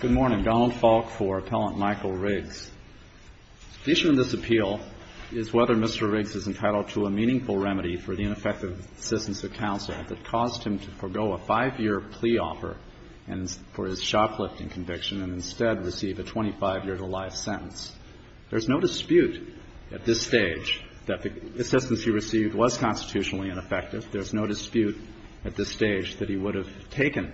Good morning. Donald Falk for Appellant Michael Riggs. The issue in this appeal is whether Mr. Riggs is entitled to a meaningful remedy for the ineffective assistance of counsel that caused him to forego a five-year plea offer for his shoplifting conviction and instead receive a 25-year-to-life sentence. There's no dispute at this stage that the assistance he received was constitutionally ineffective. There's no dispute at this stage that he would have taken,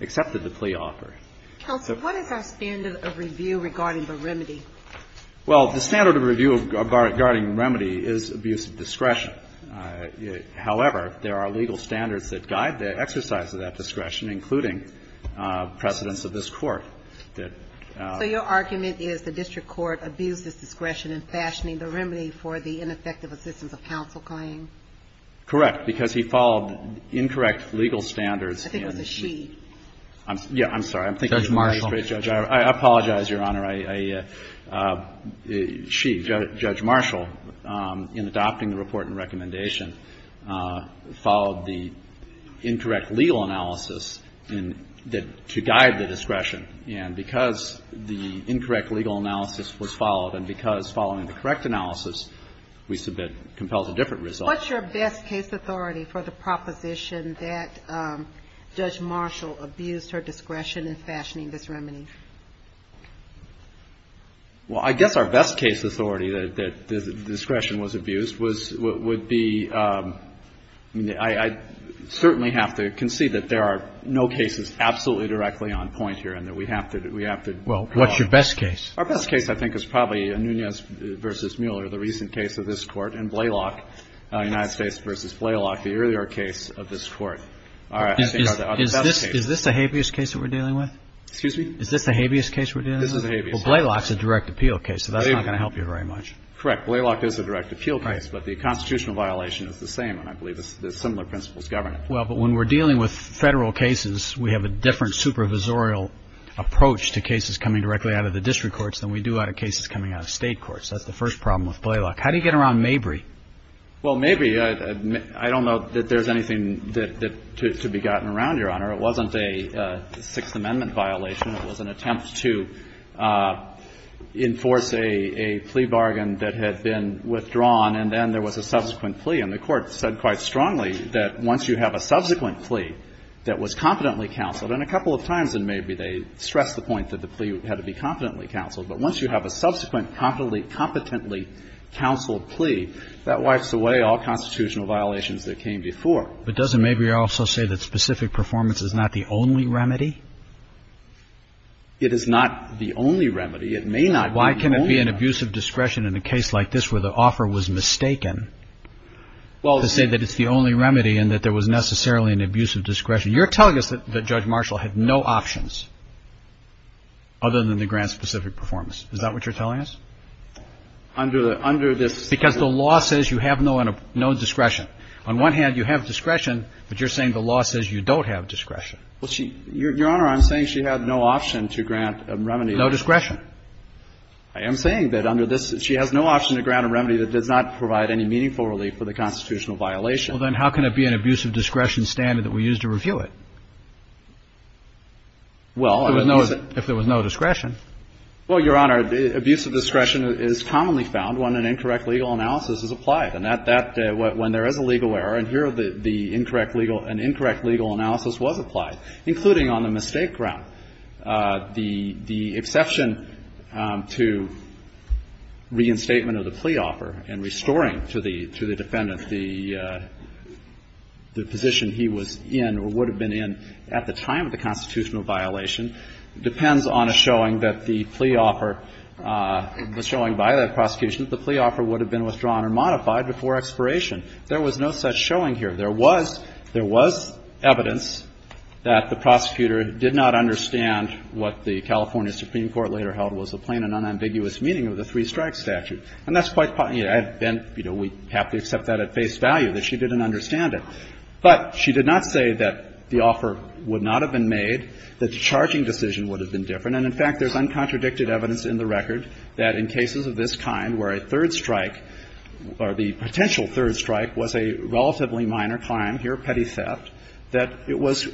accepted the plea offer. Counsel, what is our standard of review regarding the remedy? Well, the standard of review regarding remedy is abuse of discretion. However, there are legal standards that guide the exercise of that discretion, including precedence of this Court. So your argument is the district court abused its discretion in fashioning the remedy for the ineffective assistance of counsel claim? Correct, because he followed incorrect legal standards. I think it was a she. I'm sorry. Judge Marshall. I apologize, Your Honor. She, Judge Marshall, in adopting the report and recommendation followed the incorrect legal analysis to guide the discretion. And because the incorrect legal analysis was followed and because following the correct analysis, we submit compelled to different results. What's your best case authority for the proposition that Judge Marshall abused her discretion in fashioning this remedy? Well, I guess our best case authority that the discretion was abused was what would be the – I certainly have to concede that there are no cases absolutely directly on point here and that we have to draw. Well, what's your best case? Our best case, I think, is probably Nunez v. Mueller, the recent case of this Court, and Blaylock, United States v. Blaylock, the earlier case of this Court. Is this the habeas case that we're dealing with? Excuse me? Is this the habeas case we're dealing with? This is the habeas case. Well, Blaylock's a direct appeal case, so that's not going to help you very much. Correct. Blaylock is a direct appeal case, but the constitutional violation is the same, and I believe the similar principles govern it. Well, but when we're dealing with federal cases, we have a different supervisorial approach to cases coming directly out of the district courts than we do out of cases coming out of state courts. That's the first problem with Blaylock. How do you get around Mabry? Well, Mabry, I don't know that there's anything that to be gotten around, Your Honor. It wasn't a Sixth Amendment violation. It was an attempt to enforce a plea bargain that had been withdrawn, and then there was a subsequent plea, and the Court said quite strongly that once you have a subsequent plea that was competently counseled, and a couple of times in Mabry, they stressed the point that the plea had to be competently counseled. But once you have a subsequent competently counseled plea, that wipes away all constitutional violations that came before. But doesn't Mabry also say that specific performance is not the only remedy? It is not the only remedy. It may not be the only remedy. Why can it be an abuse of discretion in a case like this where the offer was mistaken to say that it's the only remedy and that there was necessarily an abuse of discretion? You're telling us that Judge Marshall had no options other than to grant specific performance. Is that what you're telling us? Under the – under this – Because the law says you have no discretion. On one hand, you have discretion, but you're saying the law says you don't have discretion. Well, Your Honor, I'm saying she had no option to grant a remedy. No discretion. I am saying that under this, she has no option to grant a remedy that does not provide any meaningful relief for the constitutional violation. Well, then how can it be an abuse of discretion standard that we use to review it? Well, if there was no discretion. Well, Your Honor, abuse of discretion is commonly found when an incorrect legal analysis is applied. And that – when there is a legal error, and here the incorrect legal – an incorrect legal analysis was applied, including on the mistake ground. The exception to reinstatement of the plea offer and restoring to the defendant the position he was in or would have been in at the time of the constitutional violation depends on a showing that the plea offer – the showing by that prosecution that the plea offer would have been withdrawn or modified before expiration. There was no such showing here. There was – there was evidence that the prosecutor did not understand what the California Supreme Court later held was the plain and unambiguous meaning of the three-strike statute. And that's quite – and, you know, we have to accept that at face value, that she didn't understand it. But she did not say that the offer would not have been made, that the charging decision would have been different. And, in fact, there's uncontradicted evidence in the record that in cases of this kind where a third strike or the potential third strike was a relatively minor crime here, petty theft, that it was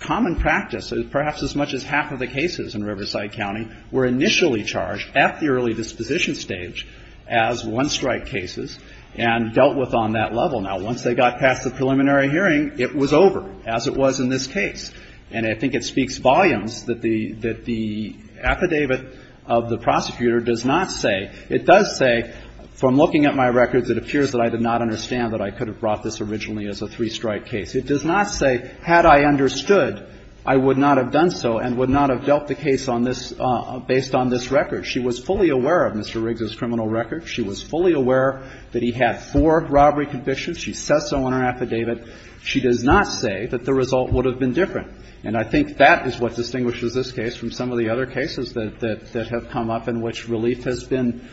common practice, perhaps as much as half of the cases in Riverside County were initially charged at the early disposition stage as one-strike cases and dealt with on that level. Now, once they got past the preliminary hearing, it was over, as it was in this case. And I think it speaks volumes that the – that the affidavit of the prosecutor does not say – it does say, from looking at my records, it appears that I did not understand that I could have brought this originally as a three-strike case. It does not say, had I understood, I would not have done so and would not have dealt the case on this – based on this record. She was fully aware of Mr. Riggs's criminal record. She was fully aware that he had four robbery convictions. She says so on her affidavit. She does not say that the result would have been different. And I think that is what distinguishes this case from some of the other cases that have come up in which relief has been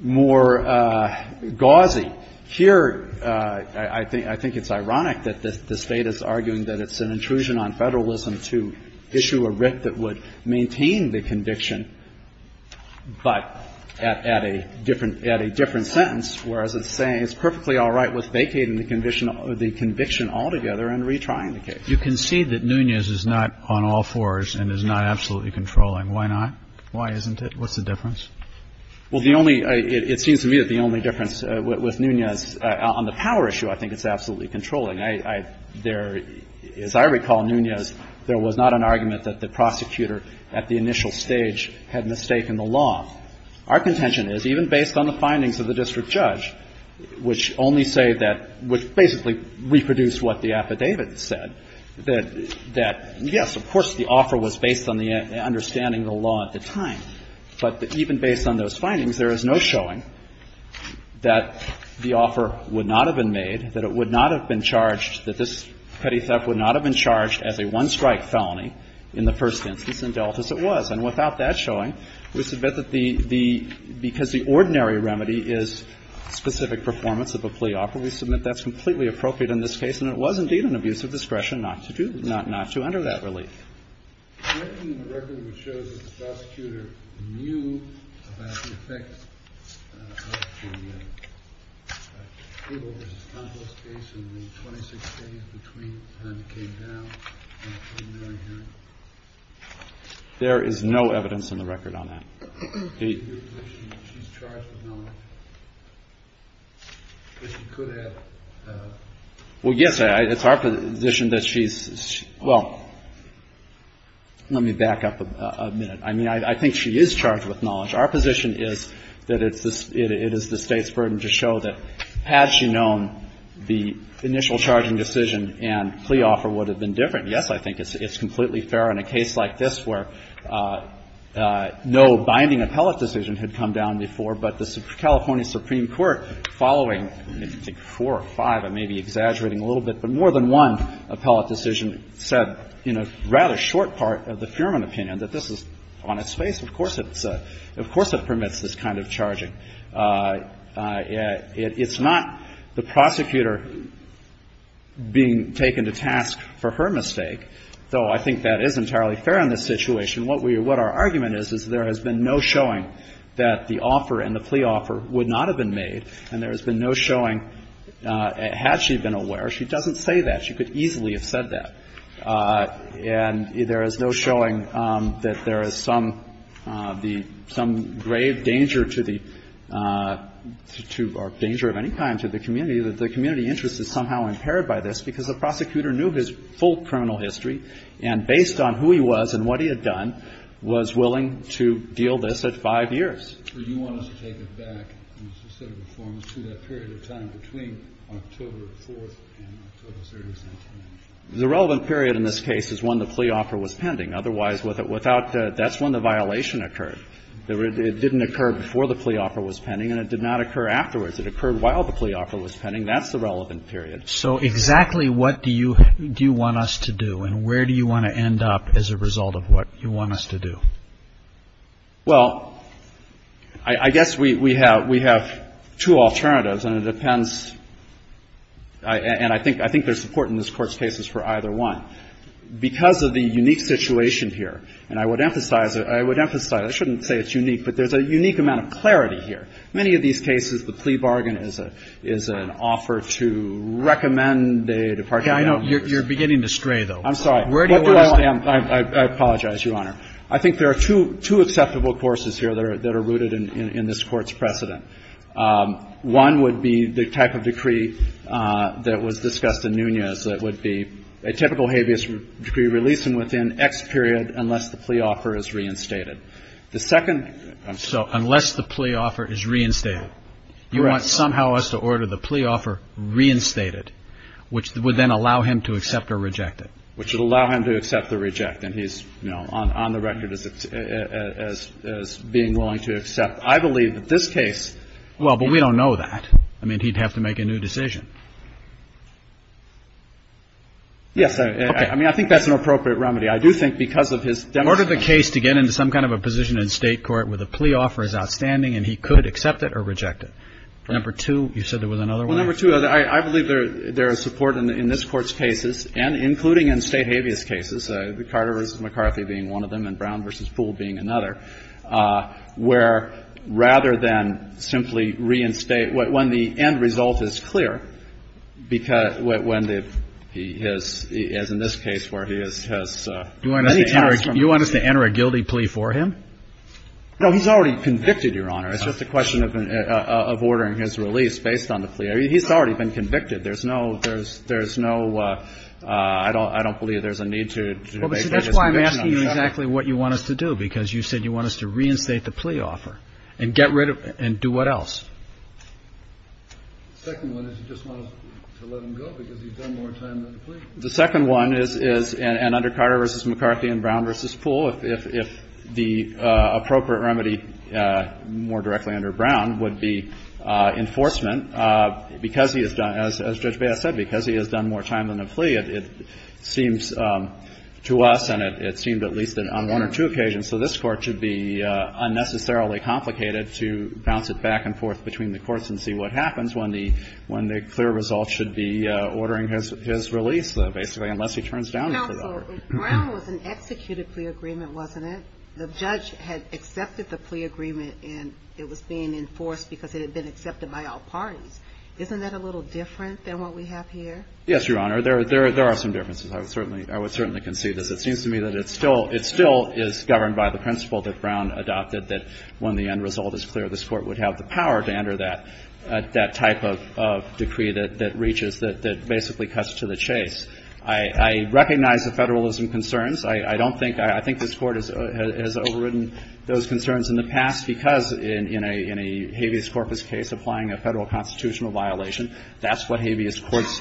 more gauzy. Here, I think it's ironic that the State is arguing that it's an intrusion on federalism to issue a writ that would maintain the conviction, but at a different – at a different sentence, whereas it's saying it's perfectly all right with vacating the conviction altogether and retrying the case. Kennedy. You concede that Nunez is not on all fours and is not absolutely controlling. Why not? Why isn't it? What's the difference? Well, the only – it seems to me that the only difference with Nunez on the power issue, I think it's absolutely controlling. I – there – as I recall, Nunez, there was not an argument that the prosecutor at the initial stage had mistaken the law. Our contention is, even based on the findings of the district judge, which only say that – which basically reproduced what the affidavit said, that yes, of course, the offer was based on the understanding of the law at the time, but even based on those findings, there is no showing that the offer would not have been made, that it would not have been charged, that this petty theft would not have been charged as a one-strike felony in the first instance, and dealt as it was. And without that showing, we submit that the – because the ordinary remedy is specific performance of a plea offer, we submit that's completely appropriate in this case, and it was indeed an abuse of discretion not to do – not to enter that relief. There isn't any record which shows that the prosecutor knew about the effect of the Cable v. Tompkins case in the 26 days between the time it came down and the preliminary hearing? There is no evidence in the record on that. In your position, she's charged with knowing that she could have – Well, yes, it's our position that she's – well, let me back up a minute. I mean, I think she is charged with knowledge. Our position is that it is the State's burden to show that had she known the initial charging decision and plea offer would have been different. Yes, I think it's completely fair in a case like this where no binding appellate decision had come down before, but the California Supreme Court following, I think four or five, I may be exaggerating a little bit, but more than one appellate decision said in a rather short part of the Fuhrman opinion that this is on its face. Of course it's a – of course it permits this kind of charging. It's not the prosecutor being taken to task for her mistake, though I think that is entirely fair in this situation. What we – what our argument is is there has been no showing that the offer and the had she been aware. She doesn't say that. She could easily have said that. And there is no showing that there is some – the – some grave danger to the – or danger of any kind to the community, that the community interest is somehow impaired by this because the prosecutor knew his full criminal history and based on who he was and what he had done, was willing to deal this at five years. So you want us to take it back to that period of time between October 4th and October 30th, 1919? The relevant period in this case is when the plea offer was pending. Otherwise, without – that's when the violation occurred. It didn't occur before the plea offer was pending and it did not occur afterwards. It occurred while the plea offer was pending. That's the relevant period. So exactly what do you – do you want us to do and where do you want to end up as a result of what you want us to do? Well, I guess we have – we have two alternatives and it depends – and I think there's support in this Court's cases for either one. Because of the unique situation here, and I would emphasize – I would emphasize – I shouldn't say it's unique, but there's a unique amount of clarity here. Many of these cases, the plea bargain is an offer to recommend a department of justice. You're beginning to stray, though. I'm sorry. Where do you want us to end? I apologize, Your Honor. I think there are two – two acceptable courses here that are rooted in this Court's precedent. One would be the type of decree that was discussed in Nunez that would be a typical habeas decree releasing within X period unless the plea offer is reinstated. The second – So unless the plea offer is reinstated. You want somehow us to order the plea offer reinstated, which would then allow him to accept or reject it. Which would allow him to accept or reject, and he's, you know, on the record as being willing to accept. I believe that this case – Well, but we don't know that. I mean, he'd have to make a new decision. Yes. Okay. I mean, I think that's an appropriate remedy. I do think because of his demonstration – In order for the case to get into some kind of a position in State court where the plea offer is outstanding and he could accept it or reject it. Number two, you said there was another one? Well, number two, I believe there is support in this Court's cases, and including in State habeas cases, Carter v. McCarthy being one of them and Brown v. Poole being another, where rather than simply reinstate – when the end result is clear, when the – as in this case where he has – Do you want us to enter a guilty plea for him? No, he's already convicted, Your Honor. It's just a question of ordering his release based on the plea. He's already been convicted. There's no – there's no – I don't believe there's a need to make this conviction. Well, that's why I'm asking you exactly what you want us to do, because you said you want us to reinstate the plea offer and get rid of – and do what else? The second one is you just want us to let him go because he's done more time than the plea. The second one is – and under Carter v. McCarthy and Brown v. Poole, if the appropriate remedy, more directly under Brown, would be enforcement, because he has done – as Judge Baez said, because he has done more time than the plea, it seems to us, and it seemed at least on one or two occasions, so this Court should be unnecessarily complicated to bounce it back and forth between the courts and see what happens when the – when the clear result should be ordering his release, basically, unless he turns down the plea offer. Counsel, Brown was an executed plea agreement, wasn't it? The judge had accepted the plea agreement, and it was being enforced because it had been accepted by all parties. Isn't that a little different than what we have here? Yes, Your Honor. There are some differences. I would certainly – I would certainly concede this. It seems to me that it still – it still is governed by the principle that Brown adopted, that when the end result is clear, this Court would have the power to enter that type of decree that reaches – that basically cuts to the chase. I recognize the federalism concerns. I don't think – I think this Court has overridden those concerns in the past because in a habeas corpus case, applying a federal constitutional violation, that's what habeas courts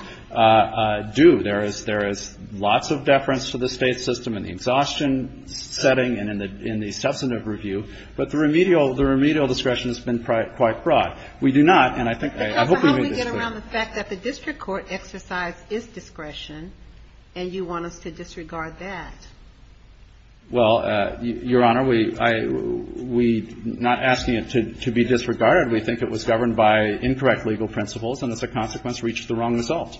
do. There is – there is lots of deference to the State system in the exhaustion setting and in the substantive review, but the remedial – the remedial discretion has been quite broad. We do not, and I think – I hope we made this clear. But how do we get around the fact that the district court exercise is discretion and you want us to disregard that? Well, Your Honor, we – I – we're not asking it to be disregarded. We think it was governed by incorrect legal principles and as a consequence reached the wrong result.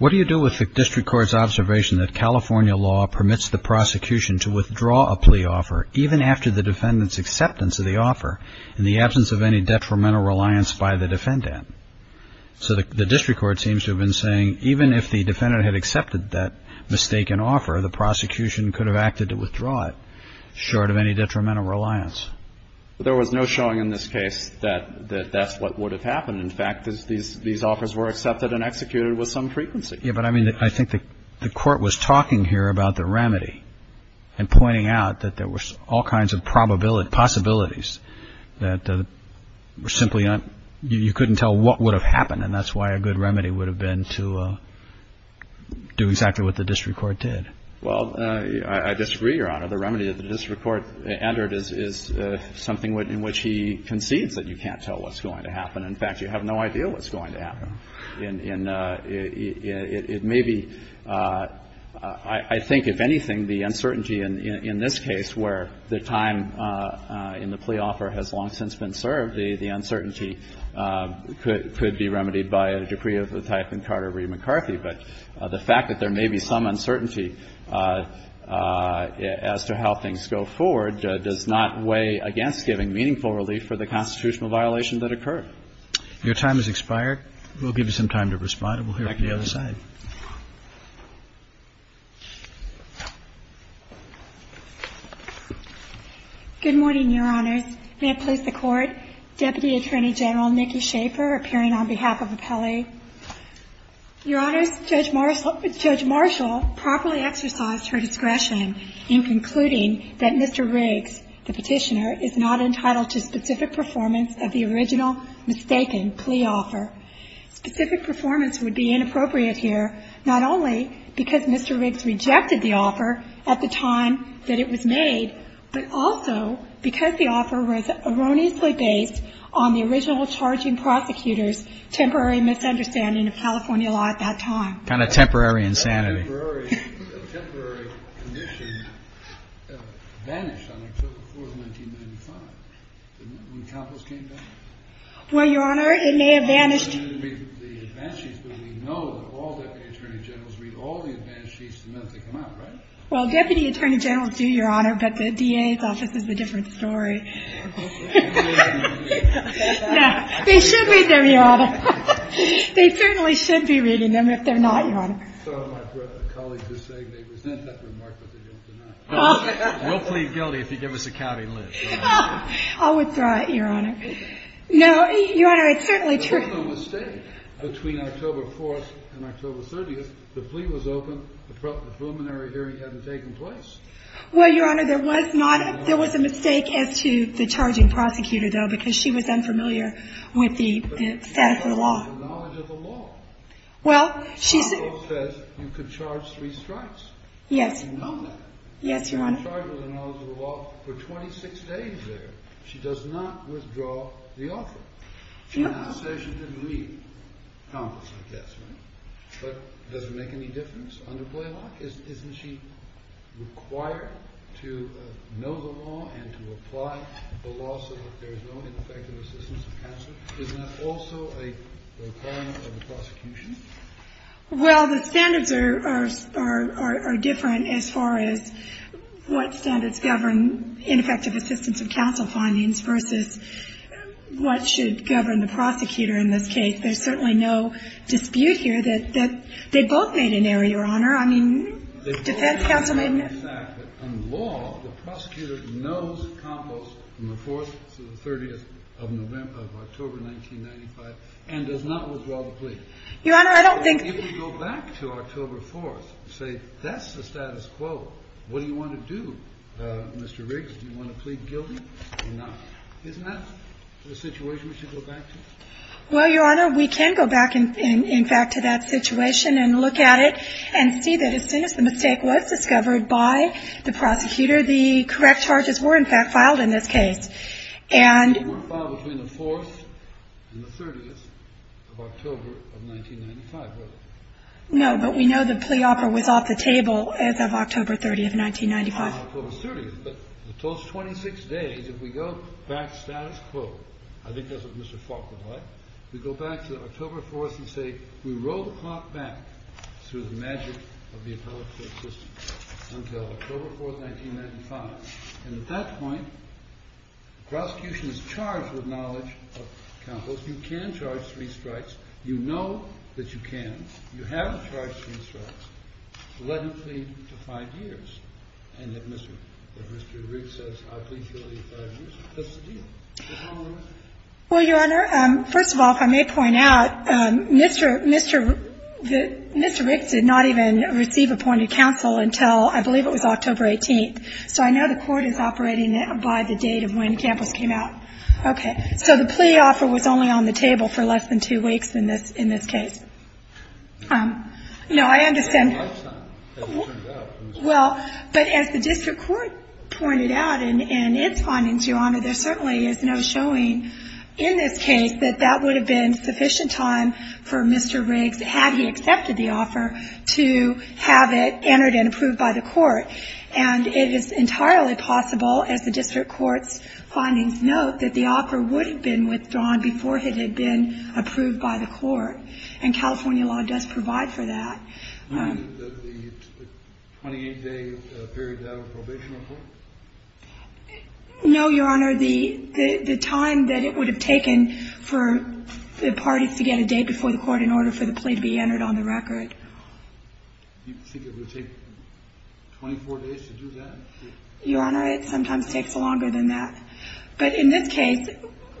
What do you do with the district court's observation that California law permits the prosecution to withdraw a plea offer even after the defendant's acceptance of the offer in the absence of any detrimental reliance by the defendant? So the district court seems to have been saying even if the defendant had accepted that mistaken offer, the prosecution could have acted to withdraw it short of any detrimental reliance. But there was no showing in this case that that's what would have happened. In fact, these offers were accepted and executed with some frequency. Yeah, but I mean, I think the Court was talking here about the remedy and pointing out that there were all kinds of possibilities that were simply not – you couldn't tell what would have happened and that's why a good remedy would have been to do exactly what the district court did. Well, I disagree, Your Honor. The remedy that the district court entered is something in which he concedes that you can't tell what's going to happen. In fact, you have no idea what's going to happen. It may be – I think if anything, the uncertainty in this case where the time in the of the type in Carter v. McCarthy, but the fact that there may be some uncertainty as to how things go forward does not weigh against giving meaningful relief for the constitutional violation that occurred. Your time has expired. We'll give you some time to respond. We'll hear from the other side. Good morning, Your Honors. May it please the Court. Thank you, Your Honor. Deputy Attorney General Nikki Schaefer appearing on behalf of Appellee. Your Honors, Judge Marshall properly exercised her discretion in concluding that Mr. Riggs, the petitioner, is not entitled to specific performance of the original mistaken plea offer. Specific performance would be inappropriate here not only because Mr. Riggs rejected the offer at the time that it was made, but also because the offer was erroneously based on the original charging prosecutor's temporary misunderstanding of California law at that time. Kind of temporary insanity. A temporary condition vanished on October 4th, 1995, when Capos came back. Well, Your Honor, it may have vanished. It may have been the advance sheets, but we know that all Deputy Attorney Generals read all the advance sheets the minute they come out, right? Well, Deputy Attorney Generals do, Your Honor, but the DA's office is a different story. No, they should read them, Your Honor. They certainly should be reading them if they're not, Your Honor. Some of my colleagues are saying they resent that remark, but they don't deny it. We'll plead guilty if you give us a county list. I'll withdraw it, Your Honor. No, Your Honor, it's certainly true. There was no mistake between October 4th and October 30th. The plea was open. The preliminary hearing hadn't taken place. Well, Your Honor, there was not a mistake. There was a mistake as to the charging prosecutor, though, because she was unfamiliar with the statute of the law. But she had the knowledge of the law. Well, she said you could charge three strikes. Yes. You know that. Yes, Your Honor. She was charged with the knowledge of the law for 26 days there. She does not withdraw the offer. She did not say she didn't read Congress, I guess, right? But does it make any difference under plea law? Isn't she required to know the law and to apply the law so that there is no ineffective assistance of counsel? Isn't that also a requirement of the prosecution? Well, the standards are different as far as what standards govern ineffective assistance of counsel findings versus what should govern the prosecutor in this case. There's certainly no dispute here that they both made an error, Your Honor. I mean, defense counsel made an error. But on law, the prosecutor knows Compost from the 4th to the 30th of October 1995 and does not withdraw the plea. Your Honor, I don't think. If we go back to October 4th and say that's the status quo, what do you want to do, Mr. Riggs? Do you want to plead guilty or not? Isn't that the situation we should go back to? Well, Your Honor, we can go back in fact to that situation and look at it and see that as soon as the mistake was discovered by the prosecutor, the correct charges were in fact filed in this case. And we're filed between the 4th and the 30th of October of 1995, right? No, but we know the plea offer was off the table as of October 30th, 1995. On October 30th. But for those 26 days, if we go back to status quo, I think that's what Mr. Falk would like, we go back to October 4th and say we roll the clock back through the magic of the appellate court system until October 4th, 1995. And at that point, the prosecution is charged with knowledge of Counsel. You can charge three strikes. You know that you can. You haven't charged three strikes. Let him plead to five years. And if Mr. Riggs says I plead guilty to five years, that's the deal. Go ahead, Your Honor. Well, Your Honor, first of all, if I may point out, Mr. Riggs did not even receive appointed counsel until I believe it was October 18th. So I know the court is operating by the date of when Campos came out. Okay. So the plea offer was only on the table for less than two weeks in this case. No, I understand. Well, but as the district court pointed out in its findings, Your Honor, there certainly is no showing in this case that that would have been sufficient time for Mr. Riggs, had he accepted the offer, to have it entered and approved by the court. And it is entirely possible, as the district court's findings note, that the offer would have been withdrawn before it had been approved by the court. And California law does provide for that. The 28-day period without a probation report? No, Your Honor. The time that it would have taken for the parties to get a date before the court in order for the plea to be entered on the record. You think it would take 24 days to do that? Your Honor, it sometimes takes longer than that. But in this case,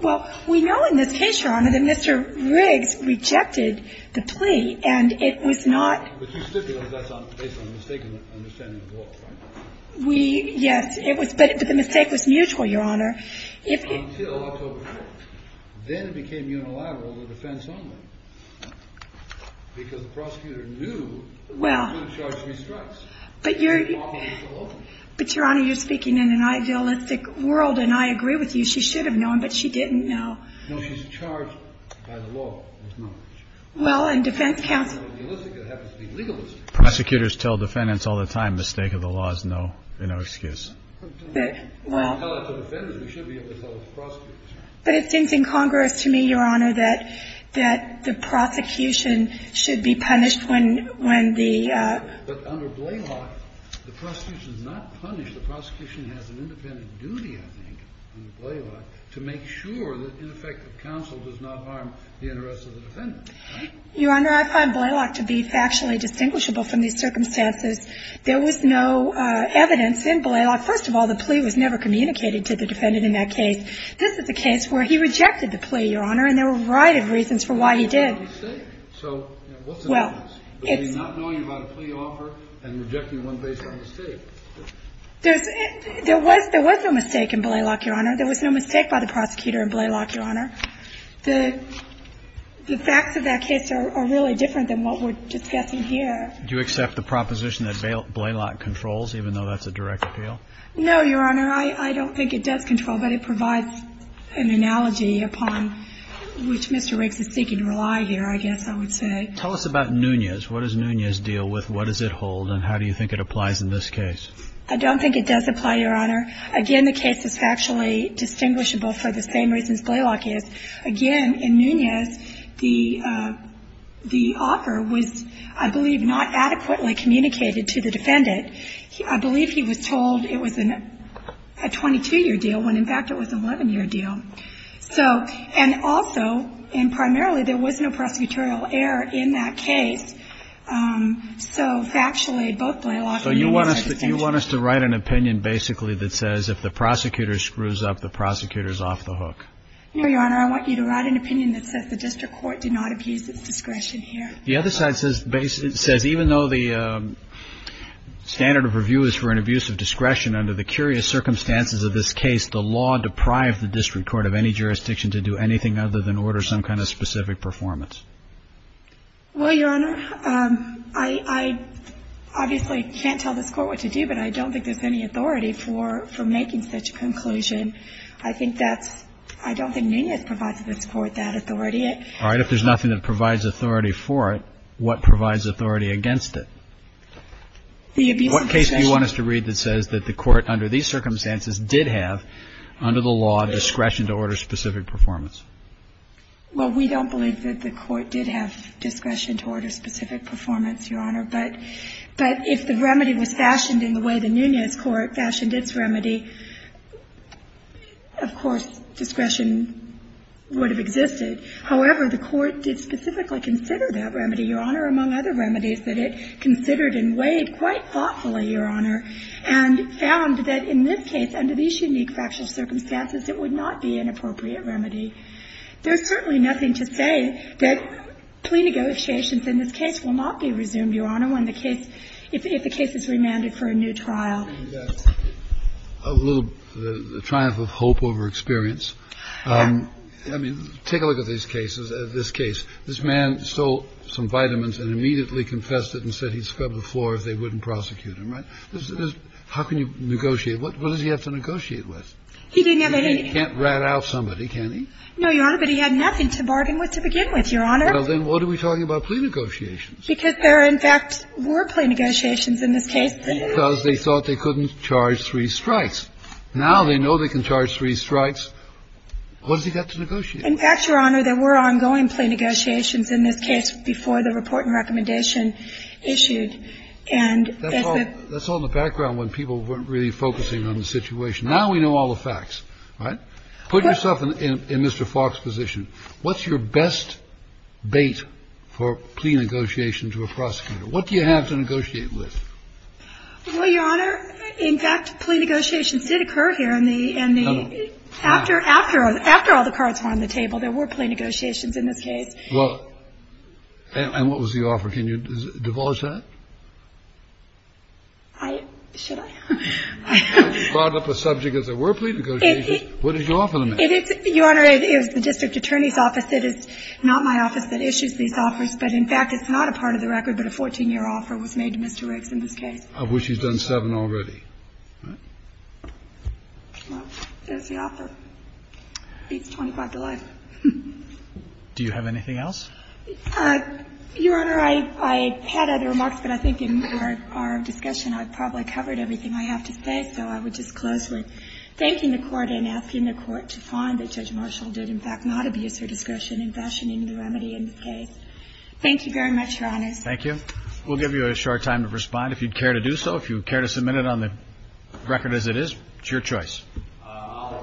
well, we know in this case, Your Honor, that Mr. Riggs rejected the plea, and it was not – But you stipulated that's based on a mistaken understanding of the law, right? We – yes. But the mistake was mutual, Your Honor. Until October 4th. Then it became unilateral, the defense only, because the prosecutor knew she was going to charge me strikes. But, Your Honor, you're speaking in an idealistic world, and I agree with you. She should have known, but she didn't know. No, she's charged by the law with knowledge. Well, and defense counsel – I'm not idealistic, I have to speak legalistically. Prosecutors tell defendants all the time the stake of the law is no excuse. Well – If we tell it to defendants, we should be able to tell it to prosecutors. But it seems incongruous to me, Your Honor, that the prosecution should be punished when the – But under Blaylock, the prosecution is not punished. The prosecution has an independent duty, I think, under Blaylock, to make sure that ineffective counsel does not harm the interests of the defendants. Your Honor, I find Blaylock to be factually distinguishable from these circumstances. There was no evidence in Blaylock – first of all, the plea was never communicated to the defendant in that case. This is a case where he rejected the plea, Your Honor, and there were a variety of reasons for why he did. So what's the difference? Well, it's – Not knowing about a plea offer and rejecting one based on a mistake. There was no mistake in Blaylock, Your Honor. There was no mistake by the prosecutor in Blaylock, Your Honor. The facts of that case are really different than what we're discussing here. Do you accept the proposition that Blaylock controls, even though that's a direct appeal? No, Your Honor. I don't think it does control, but it provides an analogy upon which Mr. Riggs is seeking to rely here, I guess I would say. Tell us about Nunez. What does Nunez deal with? What does it hold? And how do you think it applies in this case? I don't think it does apply, Your Honor. Again, the case is factually distinguishable for the same reasons Blaylock is. Again, in Nunez, the offer was, I believe, not adequately communicated to the defendant. I believe he was told it was a 22-year deal when, in fact, it was an 11-year deal. So – and also, and primarily, there was no prosecutorial error in that case. So factually, both Blaylock and Nunez are the same. Do you want us to write an opinion, basically, that says if the prosecutor screws up, the prosecutor is off the hook? No, Your Honor. I want you to write an opinion that says the district court did not abuse its discretion here. The other side says even though the standard of review is for an abuse of discretion, under the curious circumstances of this case, the law deprived the district court of any jurisdiction to do anything other than order some kind of specific performance. Well, Your Honor, I obviously can't tell this Court what to do, but I don't think there's any authority for making such a conclusion. I think that's – I don't think Nunez provides to this Court that authority. All right. If there's nothing that provides authority for it, what provides authority against it? The abuse of discretion. What case do you want us to read that says that the Court, under these circumstances, did have, under the law, discretion to order specific performance? Well, we don't believe that the Court did have discretion to order specific performance, Your Honor. But if the remedy was fashioned in the way the Nunez Court fashioned its remedy, of course, discretion would have existed. However, the Court did specifically consider that remedy, Your Honor, among other remedies that it considered and weighed quite thoughtfully, Your Honor, and found that in this case, under these unique factual circumstances, it would not be an appropriate remedy. There's certainly nothing to say that plea negotiations in this case will not be resumed, Your Honor, when the case – if the case is remanded for a new trial. A little triumph of hope over experience. I mean, take a look at these cases. This case. This man stole some vitamins and immediately confessed it and said he'd scrub the floor if they wouldn't prosecute him, right? How can you negotiate? What does he have to negotiate with? He didn't have any – He can't rat out somebody, can he? No, Your Honor, but he had nothing to bargain with to begin with, Your Honor. Well, then what are we talking about plea negotiations? Because there, in fact, were plea negotiations in this case. Because they thought they couldn't charge three strikes. Now they know they can charge three strikes. What has he got to negotiate? In fact, Your Honor, there were ongoing plea negotiations in this case before the report and recommendation issued, and as the – That's all in the background when people weren't really focusing on the situation. Now we know all the facts, right? Put yourself in Mr. Falk's position. What's your best bait for plea negotiation to a prosecutor? What do you have to negotiate with? Well, Your Honor, in fact, plea negotiations did occur here in the – No, no. After all the cards were on the table, there were plea negotiations in this case. Well, and what was the offer? Can you divulge that? I – should I? I brought up a subject as there were plea negotiations. What did you offer them? It's – Your Honor, it was the district attorney's office. It is not my office that issues these offers, but in fact, it's not a part of the record, but a 14-year offer was made to Mr. Riggs in this case. I wish he's done seven already. Well, there's the offer. Beats 25 to life. Do you have anything else? Your Honor, I had other remarks, but I think in our discussion I probably covered everything I have to say, so I would just close with thanking the Court and asking the Court to find that Judge Marshall did, in fact, not abuse her discretion in fashioning the remedy in this case. Thank you very much, Your Honors. Thank you. We'll give you a short time to respond if you'd care to do so, if you care to submit it on the record as it is. It's your choice. I'll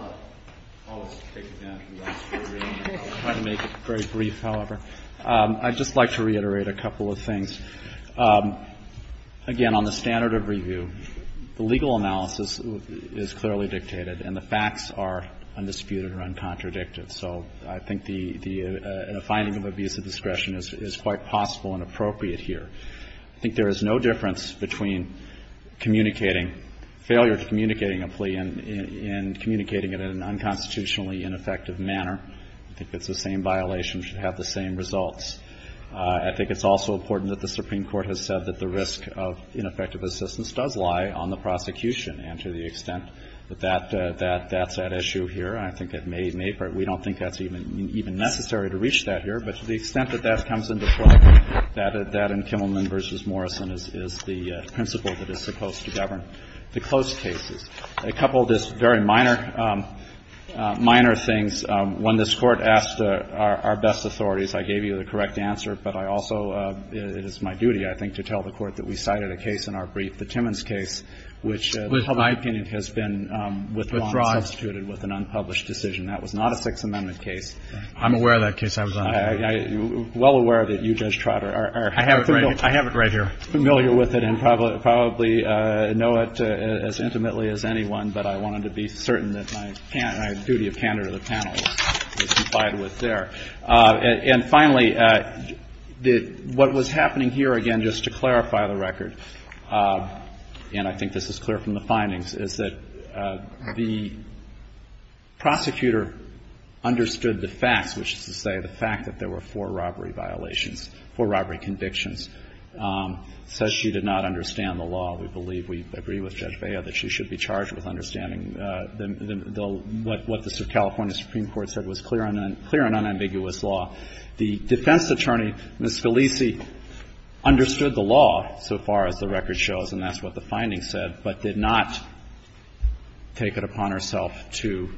take it down from that. I'll try to make it very brief, however. I'd just like to reiterate a couple of things. Again, on the standard of review, the legal analysis is clearly dictated, and the facts are undisputed or uncontradictive. So I think the finding of abuse of discretion is quite possible and appropriate here. I think there is no difference between communicating failure to communicating a plea and communicating it in an unconstitutionally ineffective manner. I think it's the same violation should have the same results. I think it's also important that the Supreme Court has said that the risk of ineffective assistance does lie on the prosecution. And to the extent that that's at issue here, I think it may, we don't think that's even necessary to reach that here. But to the extent that that comes into play, that in Kimmelman v. Morrison is the principle that is supposed to govern the closed cases. A couple of just very minor things. One, this Court asked our best authorities. I gave you the correct answer. But I also, it is my duty, I think, to tell the Court that we cited a case in our brief, the Timmons case, which in my opinion has been withdrawn and substituted with an unpublished decision. That was not a Sixth Amendment case. I'm aware of that case. I was on it. I'm well aware of it. You, Judge Trotter, are familiar with it. I have it right here. And probably know it as intimately as anyone. But I wanted to be certain that my duty of candor to the panel was defied with there. And finally, what was happening here, again, just to clarify the record, and I think this is clear from the findings, is that the prosecutor understood the facts, which is to say the fact that there were four robbery violations, four robbery convictions. Says she did not understand the law. We believe, we agree with Judge Bea that she should be charged with understanding what the California Supreme Court said was clear and unambiguous law. The defense attorney, Ms. Scalise, understood the law so far as the record shows, and that's what the findings said, but did not take it upon herself to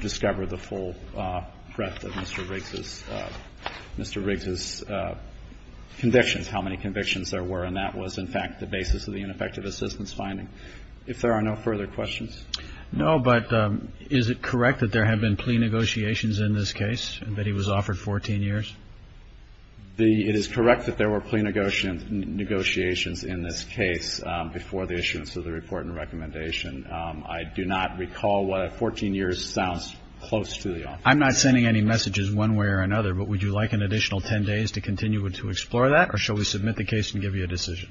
discover the full breadth of Mr. Riggs's convictions, how many convictions there were. And that was, in fact, the basis of the ineffective assistance finding. If there are no further questions. No, but is it correct that there have been plea negotiations in this case, that he was offered 14 years? It is correct that there were plea negotiations in this case before the issuance of the report and recommendation. I do not recall what 14 years sounds close to the office. I'm not sending any messages one way or another, but would you like an additional 10 days to continue to explore that, or shall we submit the case and give you a decision?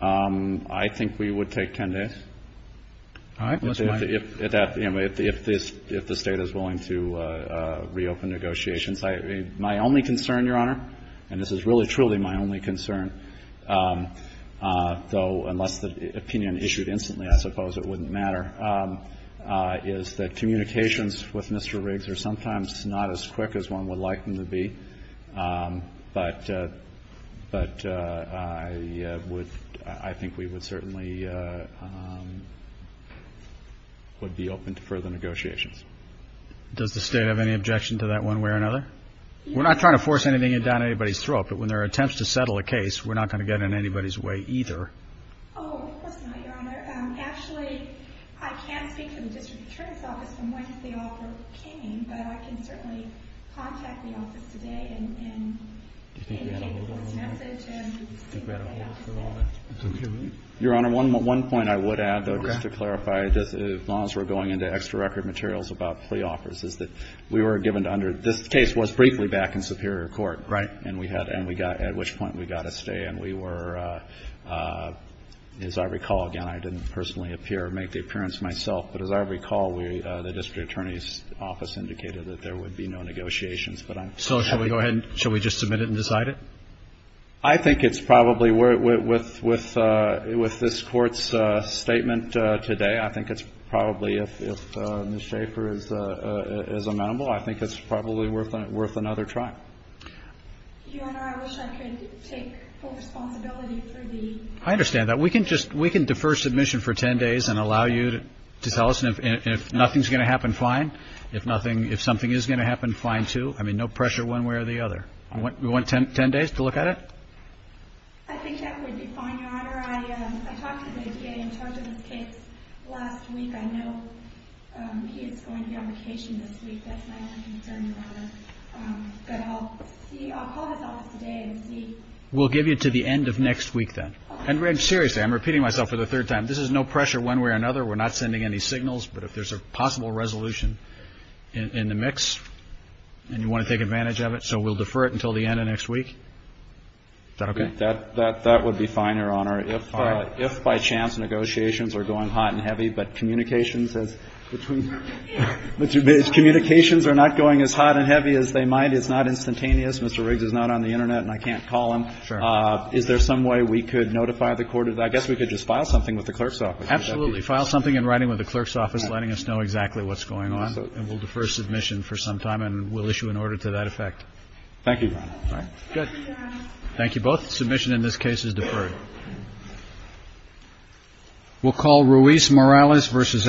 I think we would take 10 days. All right. If the State is willing to reopen negotiations. My only concern, Your Honor, and this is really, truly my only concern, though unless the opinion issued instantly, I suppose it wouldn't matter, is that communications with Mr. Riggs are sometimes not as quick as one would like them to be. But I think we would certainly be open to further negotiations. Does the State have any objection to that one way or another? We're not trying to force anything down anybody's throat, but when there are attempts to settle a case, we're not going to get in anybody's way either. Oh, of course not, Your Honor. Actually, I can speak to the District Attorney's Office from whence the offer came, but I can certainly contact the office today and indicate people's message. Your Honor, one point I would add, though, just to clarify, as long as we're going into extra record materials about plea offers, is that we were given under this case was briefly back in Superior Court. Right. And we had at which point we got a stay, and we were, as I recall, again, I didn't personally make the appearance myself, but as I recall, the District Attorney's Office indicated that there would be no negotiations. So shall we just submit it and decide it? I think it's probably, with this Court's statement today, I think it's probably, if Ms. Schaefer is amenable, I think it's probably worth another try. Your Honor, I wish I could take full responsibility for the ---- I understand that. We can defer submission for 10 days and allow you to tell us, and if nothing's going to happen, fine. If something is going to happen, fine, too. I mean, no pressure one way or the other. You want 10 days to look at it? I think that would be fine, Your Honor. I talked to the DA in charge of this case last week. I know he is going to be on vacation this week. That's my only concern, Your Honor. But I'll call his office today and see. We'll give you to the end of next week, then. And, seriously, I'm repeating myself for the third time. This is no pressure one way or another. We're not sending any signals, but if there's a possible resolution in the mix and you want to take advantage of it, so we'll defer it until the end of next week? Is that okay? That would be fine, Your Honor. If by chance negotiations are going hot and heavy, but communications are not going as hot and heavy as they might, it's not instantaneous, Mr. Riggs is not on the Internet and I can't call him, is there some way we could notify the court of that? I guess we could just file something with the clerk's office. Absolutely. File something in writing with the clerk's office letting us know exactly what's going on. And we'll defer submission for some time and we'll issue an order to that effect. Thank you. Thank you both. Submission in this case is deferred. We'll call Ruiz Morales versus Ashcroft.